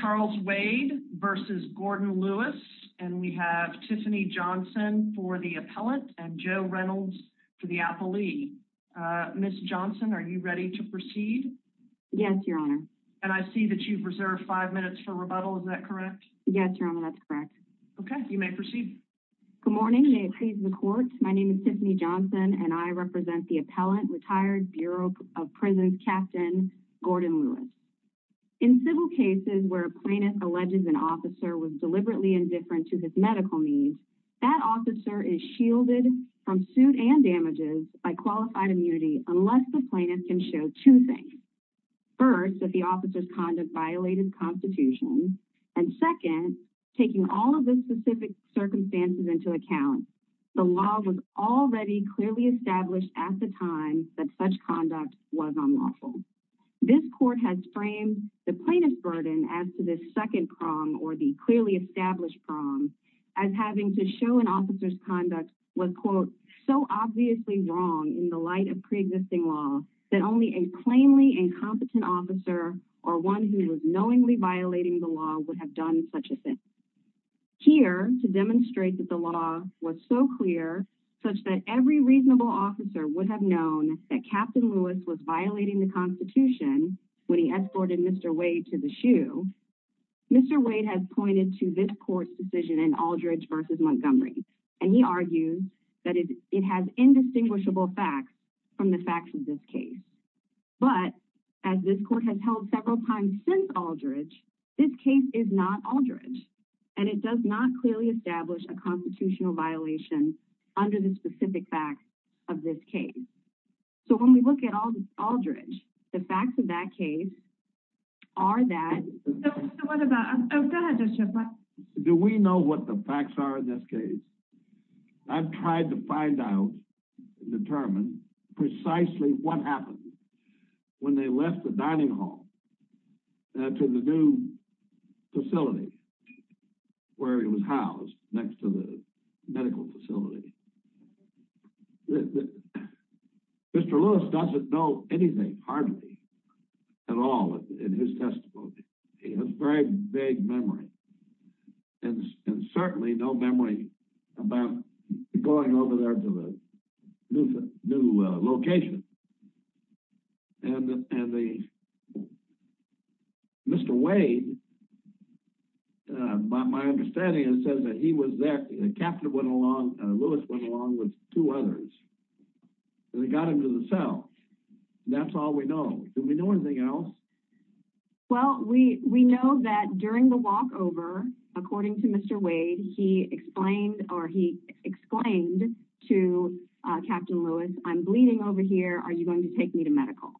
Charles Wade v. Gordon Lewis and we have Tiffany Johnson for the appellant and Joe Reynolds for the appellee. Ms. Johnson, are you ready to proceed? Yes, your honor. And I see that you've reserved five minutes for rebuttal, is that correct? Yes, your honor, that's correct. Okay, you may proceed. Good morning, may it please the court, my name is Tiffany Johnson and I plaintiff alleges an officer was deliberately indifferent to his medical needs, that officer is shielded from suit and damages by qualified immunity unless the plaintiff can show two things. First, that the officer's conduct violated constitution. And second, taking all of the specific circumstances into account, the law was already clearly established at the time that such conduct was unlawful. This court has framed the plaintiff's burden as to this second prong or the clearly established prong as having to show an officer's conduct was, quote, so obviously wrong in the light of pre-existing law that only a plainly incompetent officer or one who was knowingly violating the law would have done such a thing. Here to demonstrate that law was so clear such that every reasonable officer would have known that Captain Lewis was violating the constitution when he escorted Mr. Wade to the shoe, Mr. Wade has pointed to this court's decision in Aldridge versus Montgomery, and he argues that it has indistinguishable facts from the facts of this case. But as this court has held several times since Aldridge, this case is not Aldridge, and it does not clearly establish a constitutional violation under the specific facts of this case. So when we look at Aldridge, the facts of that case are that... So what about... Oh, go ahead, Judge Schiff. Do we know what the facts are in this case? I've tried to find out, determine precisely what when they left the dining hall to the new facility where he was housed next to the medical facility. Mr. Lewis doesn't know anything, hardly at all, in his testimony. He has very vague memory, and certainly no memory about going over there to the new location. And the... Mr. Wade, by my understanding, it says that he was there, the captain went along, Lewis went along with two others, and they got him to the cell. That's all we know. Do we know walkover? According to Mr. Wade, he explained to Captain Lewis, I'm bleeding over here, are you going to take me to medical?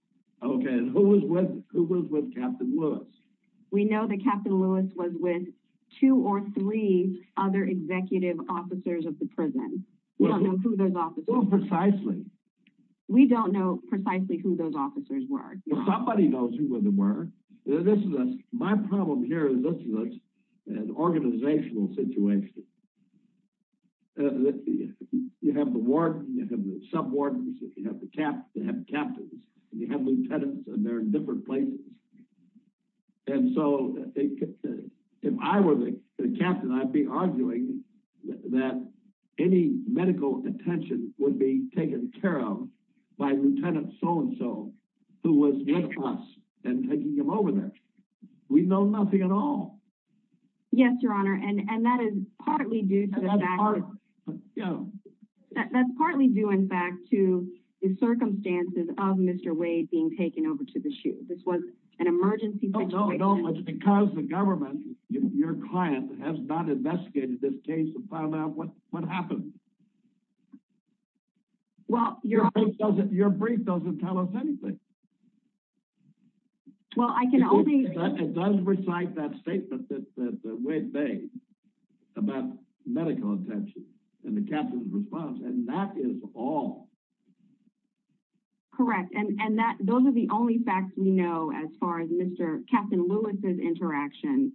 Okay, and who was with Captain Lewis? We know that Captain Lewis was with two or three other executive officers of the prison. We don't know who those officers were. Well, precisely. We don't know precisely who those officers were. Well, somebody knows who they were. This is, my problem here is this is an organizational situation. You have the warden, you have the sub wardens, you have the captains, and you have lieutenants, and they're in different places. And so if I were the captain, I'd be arguing that any over there. We know nothing at all. Yes, Your Honor. And that is partly due to... That's partly due, in fact, to the circumstances of Mr. Wade being taken over to the chute. This was an emergency situation. No, because the government, your client, has not investigated this case and found out what happened. Well, Your Honor. Your brief doesn't tell us anything. Well, I can only... It does recite that statement that Wade made about medical attention and the captain's response, and that is all. Correct. And those are the only facts we know as far as Captain Lewis's interaction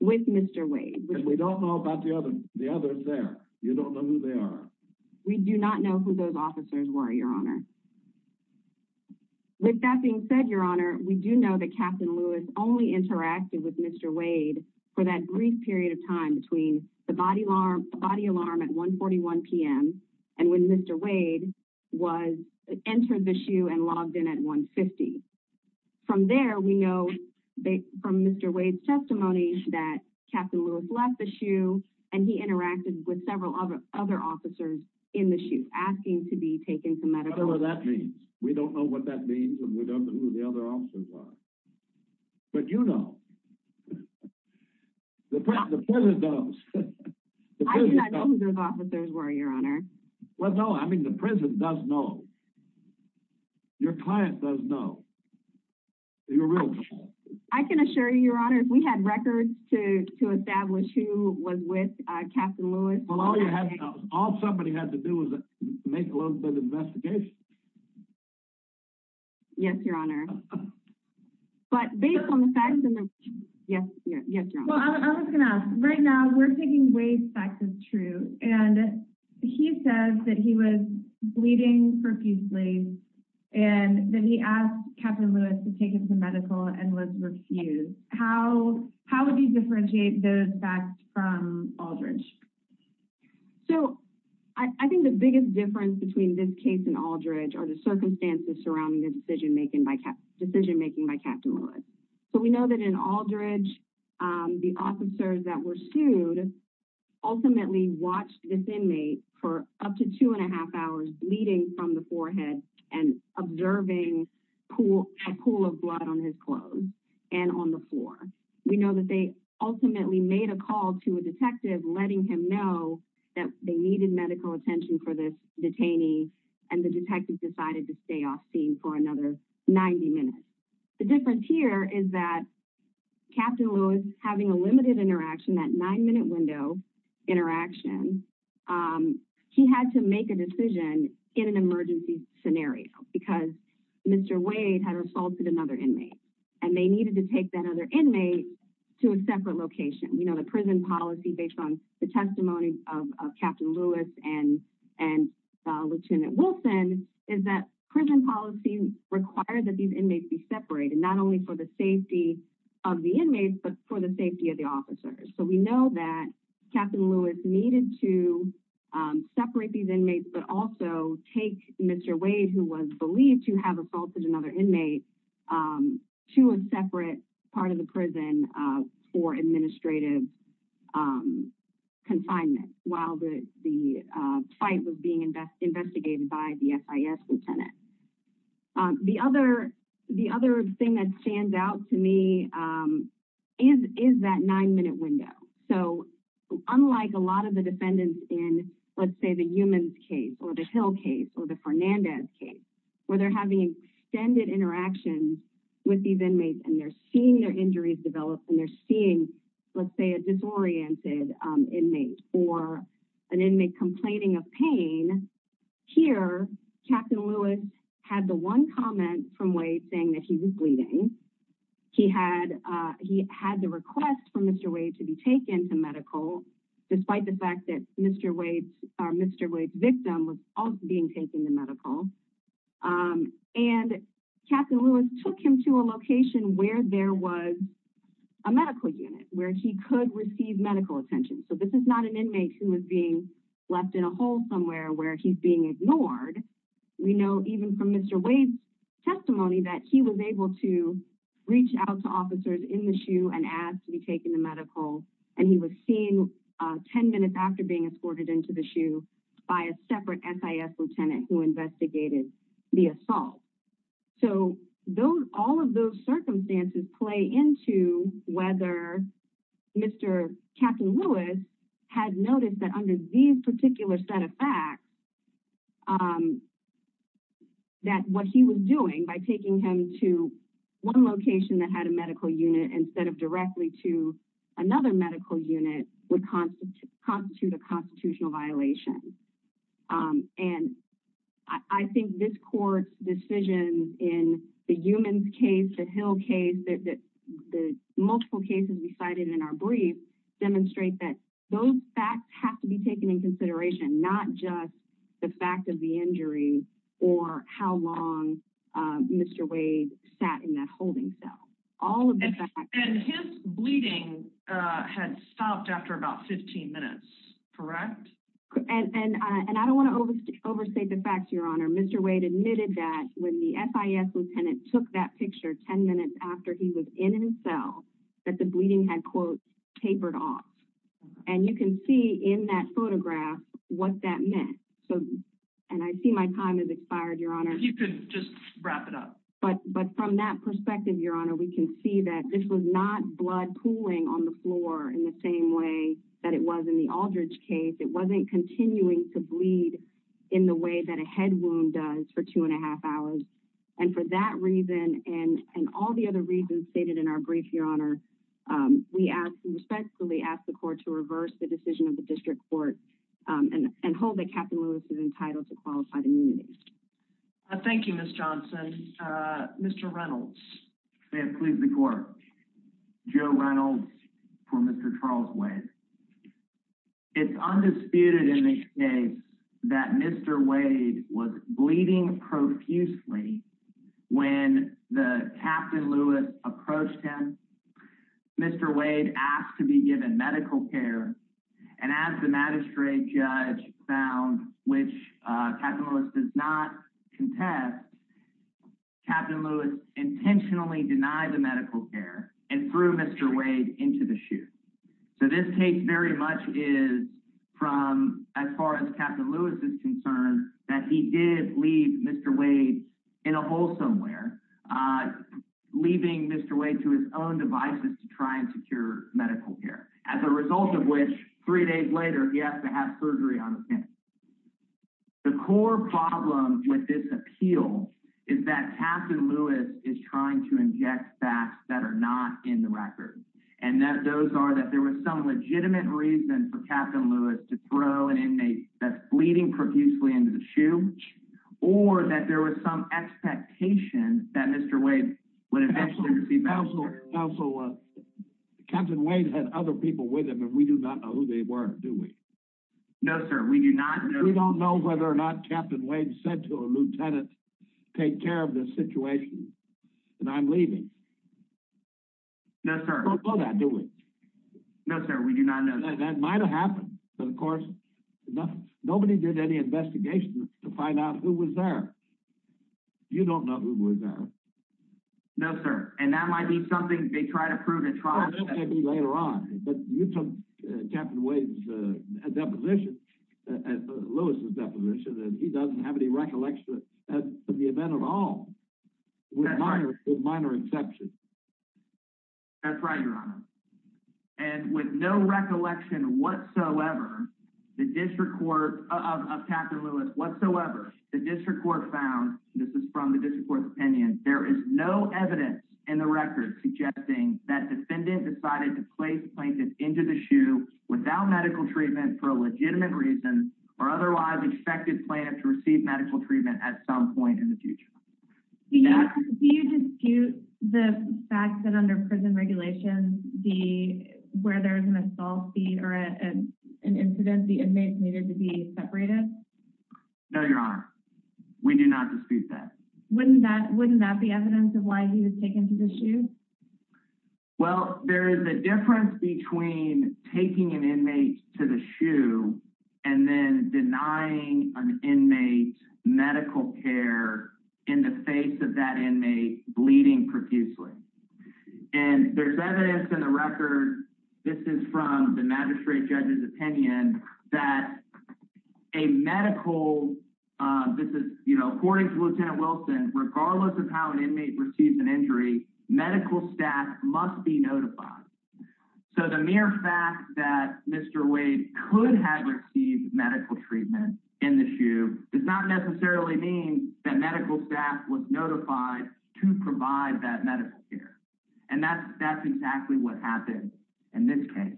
with Mr. Wade. And we don't know about the others there. You don't know who they are. We do not know who those officers were, Your Honor. With that being said, Your Honor, we do know that Captain Lewis only interacted with Mr. Wade for that brief period of time between the body alarm at 1.41 p.m. and when Mr. Wade entered the chute and logged in at 1.50. From there, we know from Mr. Wade's testimony that he interacted with several other officers in the chute asking to be taken to medical... Whatever that means. We don't know what that means, and we don't know who the other officers are. But you know. The prison does. I do not know who those officers were, Your Honor. Well, no. I mean, the prison does know. Your client does know. Your real client. I can assure you, Your Honor, we had records to establish who was with Captain Lewis. All somebody had to do was make a little bit of an investigation. Yes, Your Honor. But based on the facts... Yes, Your Honor. Well, I was going to ask. Right now, we're taking Wade's facts as true. And he says that he was taken to medical and was refused. How would you differentiate those facts from Aldridge? So, I think the biggest difference between this case and Aldridge are the circumstances surrounding the decision-making by Captain Lewis. So, we know that in Aldridge, the officers that were sued ultimately watched this inmate for up to two and a half hours bleeding from the forehead and observing a pool of blood on his clothes and on the floor. We know that they ultimately made a call to a detective letting him know that they needed medical attention for this detainee, and the detective decided to stay off scene for another 90 minutes. The difference here is that Captain Lewis, having a limited interaction, that nine-minute window interaction, he had to make a decision in an emergency scenario because Mr. Wade had assaulted another inmate, and they needed to take that other inmate to a separate location. You know, the prison policy, based on the testimony of Captain Lewis and Lieutenant Wilson, is that prison policy requires that these inmates be separated, not only for the safety of the inmates, but for the safety of the officers. So, we know that Captain Lewis needed to separate these inmates, but also take Mr. Wade, who was believed to have assaulted another inmate, to a separate part of the prison for administrative confinement while the fight was being investigated by the FIS lieutenant. The other thing that stands out to me is that nine-minute window. So, unlike a lot of the defendants in, let's say, the Humans case, or the Hill case, or the Fernandez case, where they're having extended interactions with these inmates, and they're seeing their injuries develop, and they're seeing, let's say, a disoriented inmate, or an inmate complaining of pain, here, Captain Lewis had the one comment from Wade saying that he was bleeding. He had the request for Mr. Wade to be taken to medical, despite the fact that Mr. Wade's victim was also being taken to medical, and Captain Lewis took him to a location where there was a medical unit, where he could receive medical attention. So, this is not an inmate who was being left in a hole somewhere where he's being ignored. We know, even from Mr. Wade's testimony, that he was able to reach out to officers in the SHU and ask to be taken to medical, and he was seen 10 minutes after being escorted into the SHU by a separate FIS lieutenant who investigated the assault. So, all of those circumstances play into whether Mr. Captain Lewis had noticed that under these particular set of facts, that what he was doing by taking him to one location that had a medical unit, instead of directly to another medical unit, would constitute a constitutional violation. I think this court's decision in the Eumanns case, the Hill case, the multiple cases we cited in our brief, demonstrate that those facts have to be taken into consideration, not just the fact of the injury or how long Mr. Wade sat in that holding cell. All of the facts. And his bleeding had stopped after about 15 minutes, correct? And I don't want to overstate the facts, Your Honor. Mr. Wade admitted that when the FIS lieutenant took that picture 10 minutes after he was in his cell, that the bleeding had, quote, tapered off. And you can see in that photograph what that meant. And I see my time has expired, Your Honor. You can just wrap it up. But from that perspective, Your Honor, we can see that this was not blood pooling on the floor in the same way that it was in the Aldridge case. It wasn't continuing to bleed in the way that a head wound does for two and a half hours. And for that reason, and all the other reasons stated in our brief, Your Honor, we respectfully ask the court to reverse the decision of the district court and hold that Captain Lewis is entitled to qualified immunity. Thank you, Ms. Johnson. Mr. Reynolds. May it please the court. Joe Reynolds for Mr. Charles Wade. It's undisputed in this case that Mr. Wade was bleeding profusely when the Captain Lewis approached him. Mr. Wade asked to be given medical care. And as the magistrate judge found, which Captain Lewis does not contest, Captain Lewis intentionally denied the medical care and threw Mr. Wade into the chute. So this case very much is from, as far as Captain Lewis is concerned, that he did leave Mr. Wade in a hole somewhere, leaving Mr. Wade to his own devices to try and secure medical care, as a result of which, three days later, he asked to have surgery on his hand. The core problem with this appeal is that Captain Lewis is trying to inject facts that are not in the record. And those are that there was some legitimate reason for Captain Lewis to throw an inmate that's bleeding profusely into the chute, or that there was some expectation that Mr. Wade would eventually receive medical care. Counselor, Captain Wade had other people with him, and we do not know who they were, do we? No, sir, we do not know. We don't know whether or not Captain Wade said to a lieutenant, take care of this situation, and I'm leaving. No, sir. We don't know that, do we? No, sir, we do not know. That might have happened, but of course, nobody did any investigation to find out who was there. You don't know who was there. No, sir, and that might be something they try to prove in trial. Well, that may be later on, but you took Captain Wade's deposition, Lewis's deposition, and he doesn't have any recollection of the event at all, with minor exceptions. That's right, Your Honor. And with no recollection whatsoever, the district court of Captain Lewis whatsoever, the district court found, this is from the district court's opinion, there is no evidence in the record suggesting that defendant decided to place plaintiff into the shoe without medical treatment for a legitimate reason or otherwise expected plaintiff to receive medical treatment at some point in the future. Do you dispute the fact that under prison regulations, where there's an assault or an incident, the inmates needed to be separated? No, Your Honor, we do not dispute that. Wouldn't that be evidence of why he was taken to the shoe? Well, there is a difference between taking an inmate to the shoe and then denying an inmate medical care in the face of that inmate bleeding profusely. And there's evidence in the record, this is from the magistrate judge's opinion, that a medical, this is, you know, according to Lieutenant Wilson, regardless of how an inmate receives an injury, medical staff must be notified. So the mere fact that Mr. Wade could have received medical treatment in the shoe does not necessarily mean that medical staff was notified to provide that medical care. And that's exactly what happened in this case.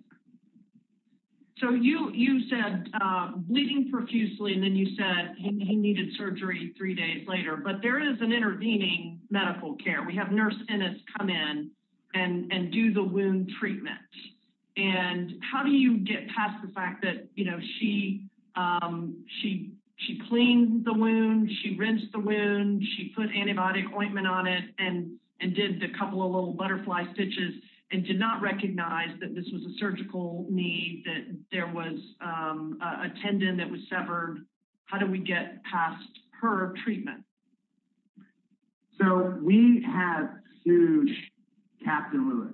So you said bleeding profusely, and then you said he needed surgery three days later, but there is an intervening medical care. We have nurse innates come in and do the wound treatment. And how do you get past the fact that, you know, she cleaned the wound, she rinsed the wound, she put antibiotic ointment on it and did a couple of little butterfly stitches and did not recognize that this was a surgical need, that there was a tendon that was severed? How do we get past her treatment? So we have sued Captain Lewis.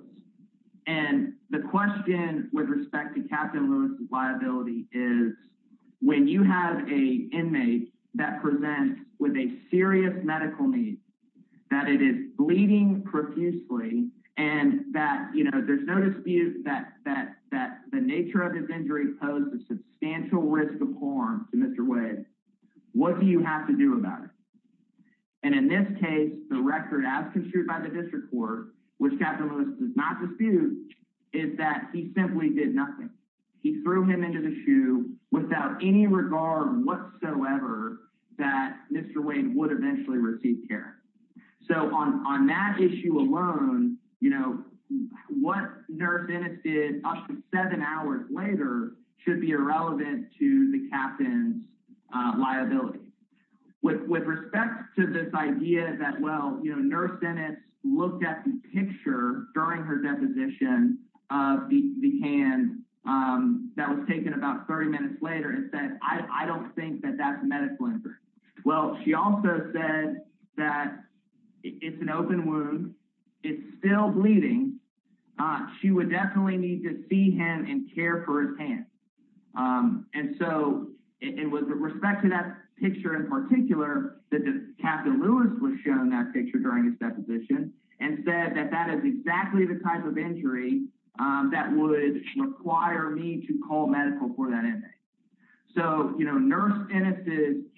And the question with respect to Captain Lewis's liability is, when you have a inmate that presents with a serious medical need, that it is bleeding profusely, and that, you know, there's no dispute that the nature of his injury posed a substantial risk of harm to Mr. Wade, what do you have to do about it? And in this case, the record as construed by the district court, which Captain Lewis does not dispute, is that he simply did nothing. He threw him into the shoe without any regard whatsoever that Mr. Wade would eventually receive care. So on that issue alone, you know, what Nurse Bennett did up to seven hours later should be irrelevant to the captain's liability. With respect to this idea that, well, you know, Nurse Bennett looked at the picture during her deposition of the hand that was taken about 30 minutes later and said, I don't think that that's a medical injury. Well, she also said that it's an open wound. It's still bleeding. She would definitely need to see him and care for his hand. And so it was with respect to that picture in particular that Captain Lewis was shown that picture during his deposition and said that that is exactly the type of injury that would require me to call medical for that inmate. So, you know, Nurse Bennett's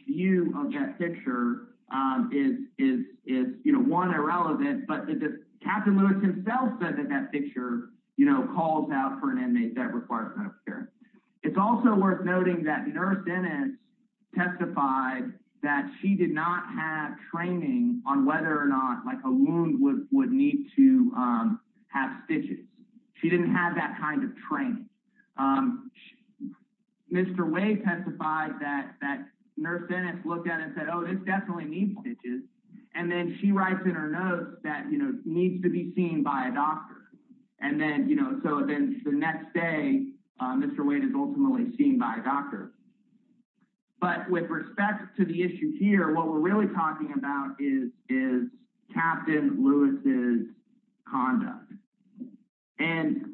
view of that picture is, you know, one, irrelevant. But Captain Lewis himself said that that picture, you know, calls out for an inmate that requires medical care. It's also worth noting that Nurse Bennett testified that she did not have training on whether or not, like, a wound would need to have stitches. She didn't have that kind of training. Mr. Wade testified that Nurse Bennett looked at it and said, oh, this definitely needs stitches. And then she writes in her note that, you know, needs to be seen by a doctor. And then, you know, so then the next day, Mr. Wade is ultimately seen by a doctor. But with respect to the issue here, what we're really talking about is Captain Lewis's conduct. And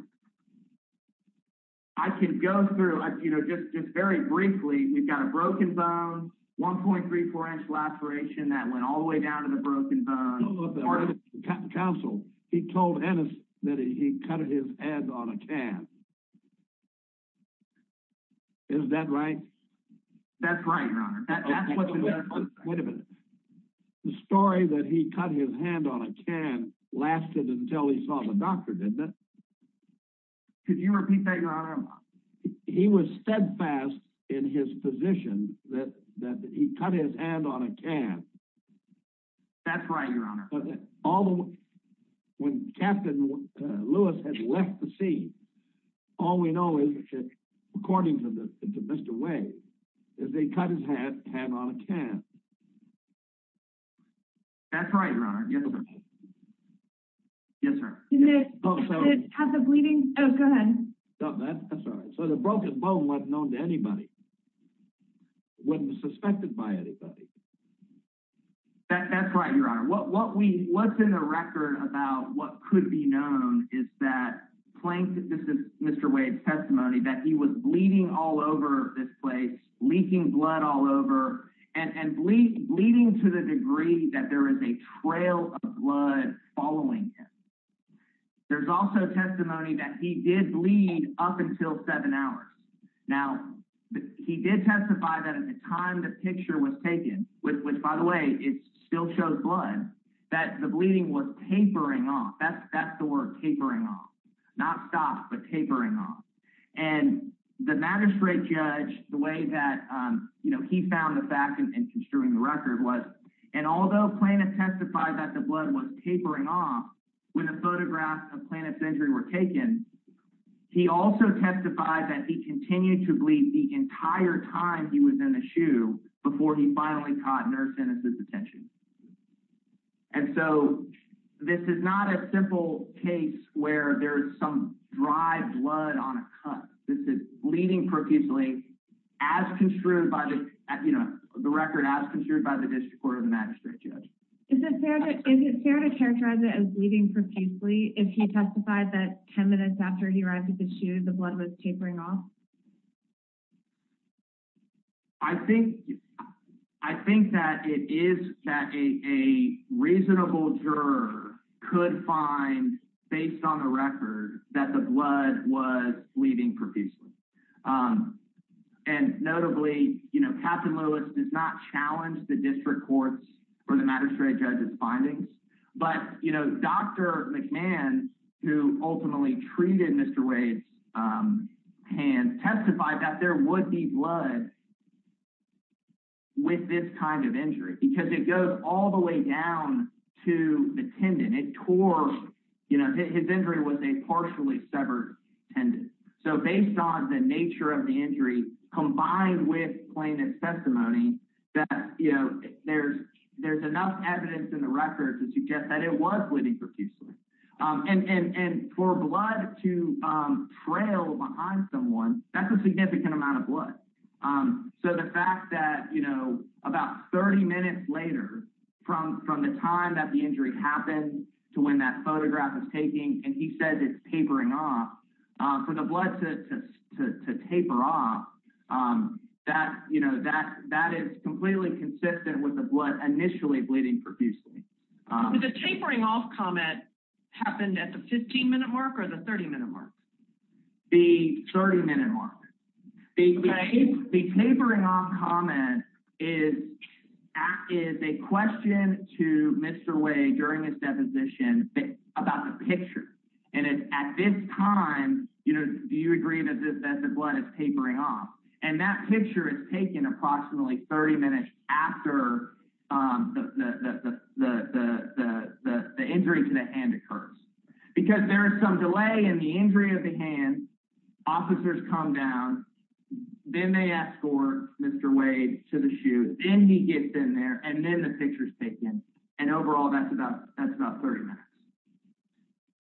I can go through, you know, just very briefly, we've got a broken bone, 1.34 inch laceration that went all the way down to the broken bone. Counsel, he told Ennis that he cut his hand on a can. Is that right? That's right, Your Honor. Wait a minute. The story that he cut his hand on a can lasted until he saw the doctor, didn't it? Could you repeat that, Your Honor? He was steadfast in his position that he cut his hand on a can. That's right, Your Honor. When Captain Lewis had left the scene, all we know is, according to Mr. Wade, is that he cut his hand on a can. That's right, Your Honor. Yes, sir. Didn't it have the bleeding? Oh, go ahead. That's right. So the broken bone wasn't known to anybody, wasn't suspected by anybody. That's right, Your Honor. What we, what's in the record about what could be known is that, this is Mr. Wade's testimony, that he was bleeding all over this place, leaking blood all over, and bleeding to the degree that there is a trail of blood following him. There's also testimony that he did bleed up until seven hours. Now, he did testify that at the time the picture was taken, which, by the way, it still shows blood, that the bleeding was tapering off. That's the word, tapering off. Not stopped, but tapering off. And the magistrate judge, the way that, you know, he found the fact in construing the record was, and although Plano testified that the blood was tapering off when the photographs of Plano's injury were taken, he also testified that he continued to bleed the entire time he was in the shoe before he finally caught nurse's attention. And so, this is not a simple case where there is some dry blood on a cut. This is bleeding profusely, as construed by the, you know, the record as construed by the district court of the magistrate judge. Is it fair to, is it fair to characterize it as bleeding profusely if he testified that 10 minutes after he arrived at the shoe, the blood was tapering off? I think, I think that it is that a, a reasonable juror could find based on the record that the blood was bleeding profusely. And notably, you know, Captain Lewis does not challenge the district courts for the magistrate judge's findings, but, you know, Dr. McMahon, who ultimately treated Mr. Wade's hands, testified that there would be blood with this kind of injury because it goes all the way down to the tendon. It tore, you know, his injury was a partially severed tendon. So, based on the nature of the injury, combined with Plano's testimony, that, you know, there's, there's enough evidence in the record to suggest that it was bleeding profusely. And, and, and for blood to trail behind someone, that's a significant amount of blood. So, the fact that, you know, about 30 minutes later from, from the time that the injury happened to when that photograph is taking and he says it's tapering off, for the blood to, to, to taper off, that, you know, that, that is completely consistent with the blood initially bleeding profusely. The tapering off comment happened at the 15-minute mark or the 30-minute mark? The 30-minute mark. The tapering off comment is, is a question to Mr. Wade during his deposition about the picture. And it's at this time, you know, do you agree that this, that the blood is tapering off? And that picture is taken approximately 30 minutes after the, the, the, the, the, the, the, the injury to the hand occurs. Because there is some delay in the injury of the hand. Officers come down. Then they escort Mr. Wade to the shoot. Then he gets in there. And then the picture's taken. And overall, that's about, that's about 30 minutes.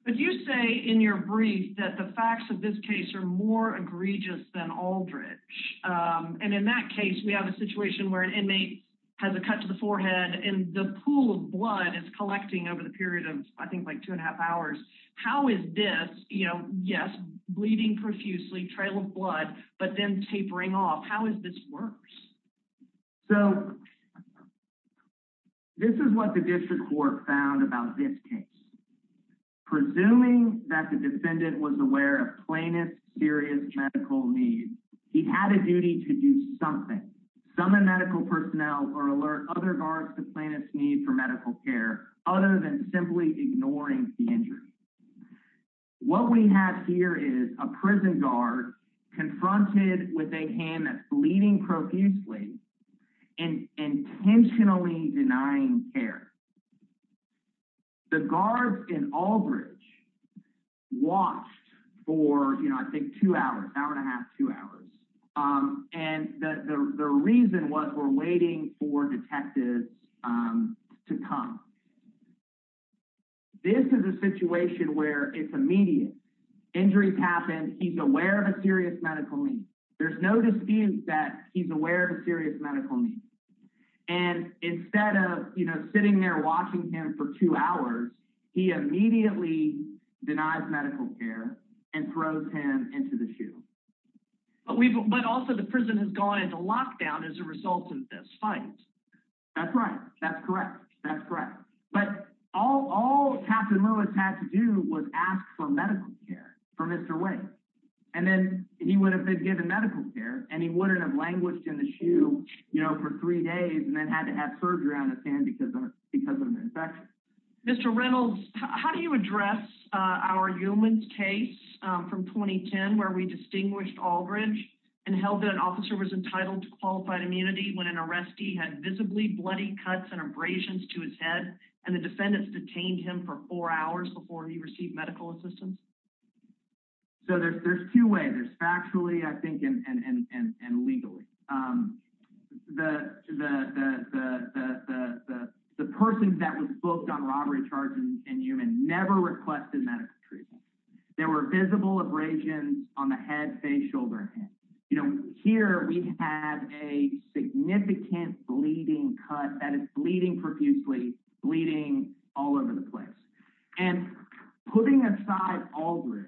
But you say in your brief that the facts of this case are more egregious than Aldridge. And in that case, we have a situation where an inmate has a cut to the forehead and the pool of blood is collecting over the period of, I think, like two and a half hours. How is this, you know, yes, bleeding profusely, trail of blood, but then tapering off? How is this worse? So this is what the district court found about this case. Presuming that the defendant was aware of plaintiff's serious medical needs, he had a duty to do something. Summon medical personnel or alert other guards to plaintiff's need for medical care, other than simply ignoring the injury. What we have here is a prison guard confronted with a hand that's bleeding profusely and intentionally denying care. The guards in Aldridge watched for, you know, I think two hours, hour and a half, two hours. And the reason was we're waiting for detectives to come. This is a situation where it's immediate. Injuries happen. He's aware of a serious medical need. There's no dispute that he's aware of a serious medical need. And instead of, you know, sitting there watching him for two hours, he immediately denies medical care and throws him into the shoe. But also the prison has gone into lockdown as a result of this fight. That's right. That's correct. That's correct. But all Captain Lewis had to do was ask for medical care for Mr. Wade. And then he would have been given medical care and he wouldn't have languished in the shoe, you know, for three days and then had to have surgery on his hand because of an infection. Mr. Reynolds, how do you address our humans case from 2010 where we distinguished Aldridge and held that an officer was entitled to qualified immunity when an arrestee had visibly bloody cuts and abrasions to his head and the defendants detained him for four hours before he received medical assistance? So there's two ways. There's factually, I think, and legally. The person that was booked on robbery charges and human never requested medical treatment. There were visible abrasions on the head, face, shoulder, and hand. You know, here we have a significant bleeding cut that is bleeding profusely, bleeding all over the place. And putting aside Aldridge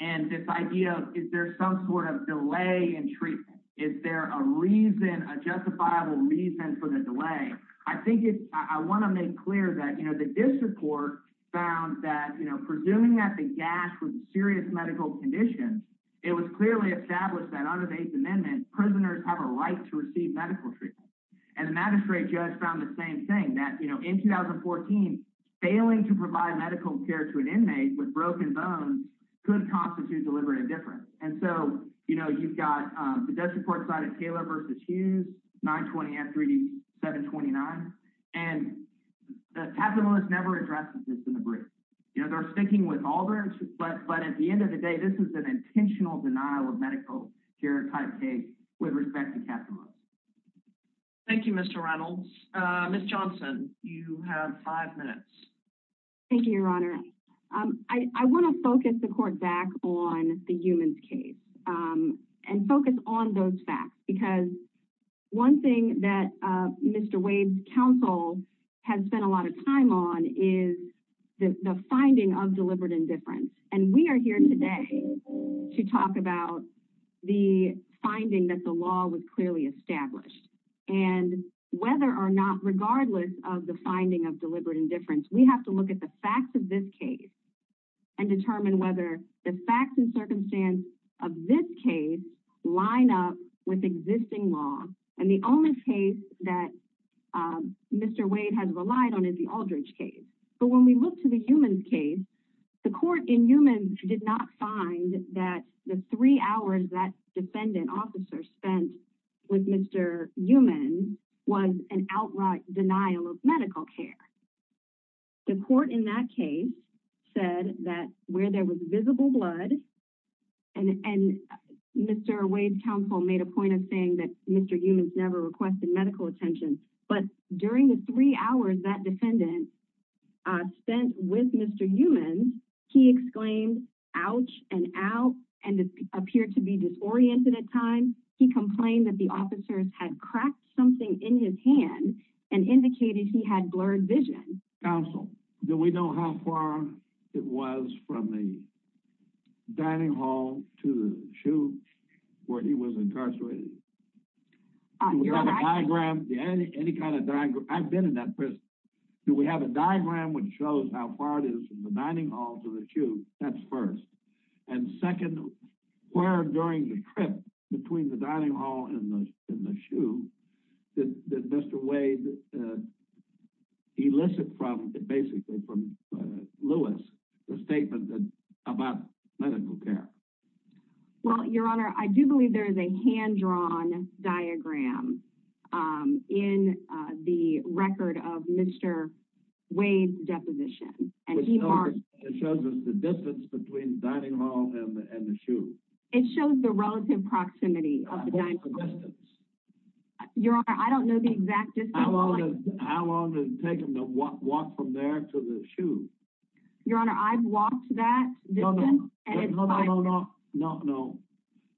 and this idea of, is there some sort of delay in treatment? Is there a reason, a justifiable reason for the delay? I think it's, I want to make clear that, you know, the district court found that, you know, presuming that the gas was a serious medical condition, it was clearly established that under the Eighth Amendment, prisoners have a right to receive medical treatment. And the magistrate judge found the same thing that, you know, in 2014, failing to provide medical care to an inmate with broken bones could constitute deliberate indifference. And so, you know, you've got the district court side of Taylor versus Hughes, 920 and 3D, 729. And the capitalist never addresses this in the brief. You know, they're speaking with Aldridge, but at the end of the day, this is an intentional denial of medical care type case with respect to capitalists. Thank you, Mr. Reynolds. Ms. Johnson, you have five minutes. Thank you, Your Honor. I want to focus the court back on the humans case and focus on those facts, because one thing that Mr. Wade's counsel has spent a lot of time on is the finding of deliberate indifference. And we are here today to talk about the finding that the law was clearly established. And whether or not, regardless of the finding of deliberate indifference, we have to look at the facts of this case and determine whether the facts and circumstance of this case line up with existing law. And the only case that Mr. Wade has relied on is the Aldridge case. But when we look to the humans case, the court in humans did not find that the three hours that defendant officer spent with Mr. Newman was an outright denial of medical care. The court in that case said that where there was visible blood and Mr. Wade's counsel made a point of saying that Mr. Newman's never requested medical attention. But during the three hours that defendant spent with Mr. Newman, he exclaimed, ouch and out, and appeared to be disoriented at times. He complained that the officers had cracked something in his hand and indicated he had blurred vision. Counsel, do we know how far it was from the dining hall to the shoe where he was incarcerated? Do we have a diagram, any kind of diagram? I've been in that prison. Do we have a diagram which shows how far it is from the dining hall to the shoe? That's first. And second, where during the trip between the dining hall and the shoe did Mr. Wade elicit from, basically from Lewis, the statement about medical care? Well, your honor, I do believe there is a hand-drawn diagram in the record of Mr. Wade's deposition. And it shows us the distance between the dining hall and the shoe. It shows the relative proximity of the dining hall. Your honor, I don't know the exact distance. How long did it take him to walk from there to the shoe? Your honor, I've walked that distance. No, no, no, no, no, no.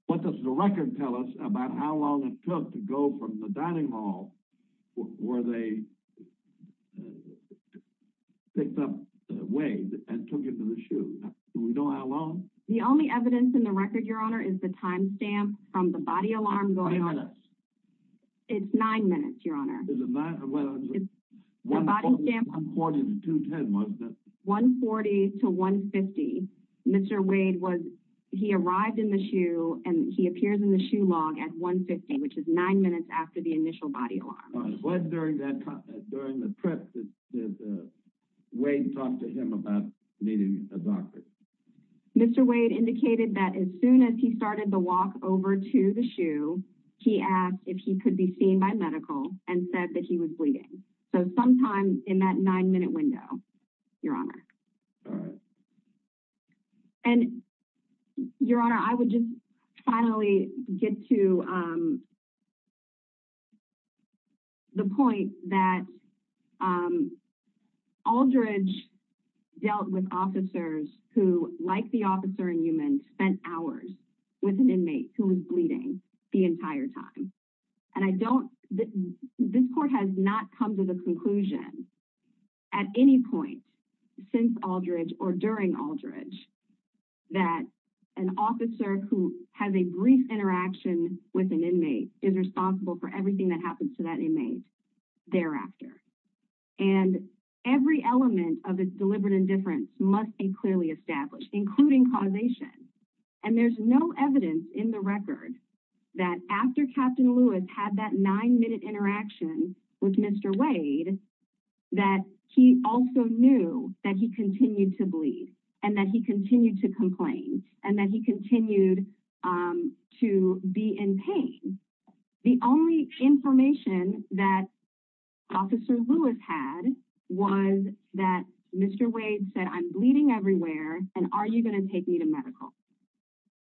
What does the record tell us about how long it took to go from the dining hall where they picked up Wade and took him to the shoe? Do we know how long? The only evidence in the record, your honor, is the timestamp from the body alarm going off. 20 minutes. It's nine minutes, your honor. Well, it's 140 to 210, wasn't it? 140 to 150. Mr. Wade was, he arrived in the shoe and he appears in the shoe log at 150, which is nine minutes after the initial body alarm. All right. When during the trip did Wade talk to him about needing a doctor? Mr. Wade indicated that as soon as he started the walk over to the shoe, he asked if he could be seen by medical and said that he was bleeding. So sometime in that nine minute window, your honor. All right. And your honor, I would just finally get to the point that Aldridge dealt with officers who, like the officer in human, spent hours with an inmate who was bleeding the entire time. And I don't, this court has not come to the conclusion at any point since Aldridge or during Aldridge that an officer who has a brief interaction with an inmate is responsible for everything that happens to that inmate thereafter. And every element of its deliberate indifference must be clearly established, including causation. And there's no evidence in the record that after Captain Lewis had that nine minute interaction with Mr. Wade, that he also knew that he continued to bleed and that he continued to complain and that he continued to be in pain. The only information that officer Lewis had was that Mr. Wade said, I'm bleeding everywhere. And are you going to take me to medical?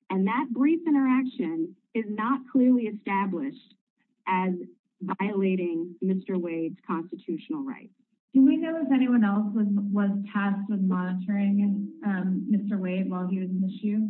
And that brief interaction is not clearly established as violating Mr. Wade's constitutional rights. Do we know if anyone else was tasked with monitoring Mr. Wade while he was in the shoe?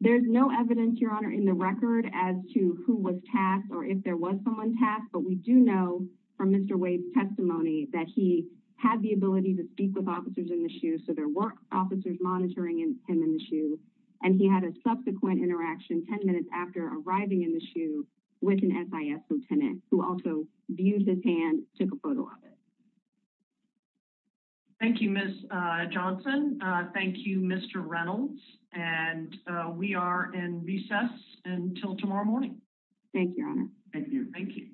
There's no evidence, your honor, in the record as to who was tasked or if there was someone tasked. But we do know from Mr. Wade's testimony that he had the ability to speak with officers in the shoe. So there were officers monitoring him in the shoe, and he had a subsequent interaction 10 minutes after arriving in the shoe with an SIS lieutenant who also used his hand, took a photo of it. Thank you, Ms. Johnson. Thank you, Mr. Reynolds. And we are in recess until tomorrow morning. Thank you, your honor. Thank you. Thank you.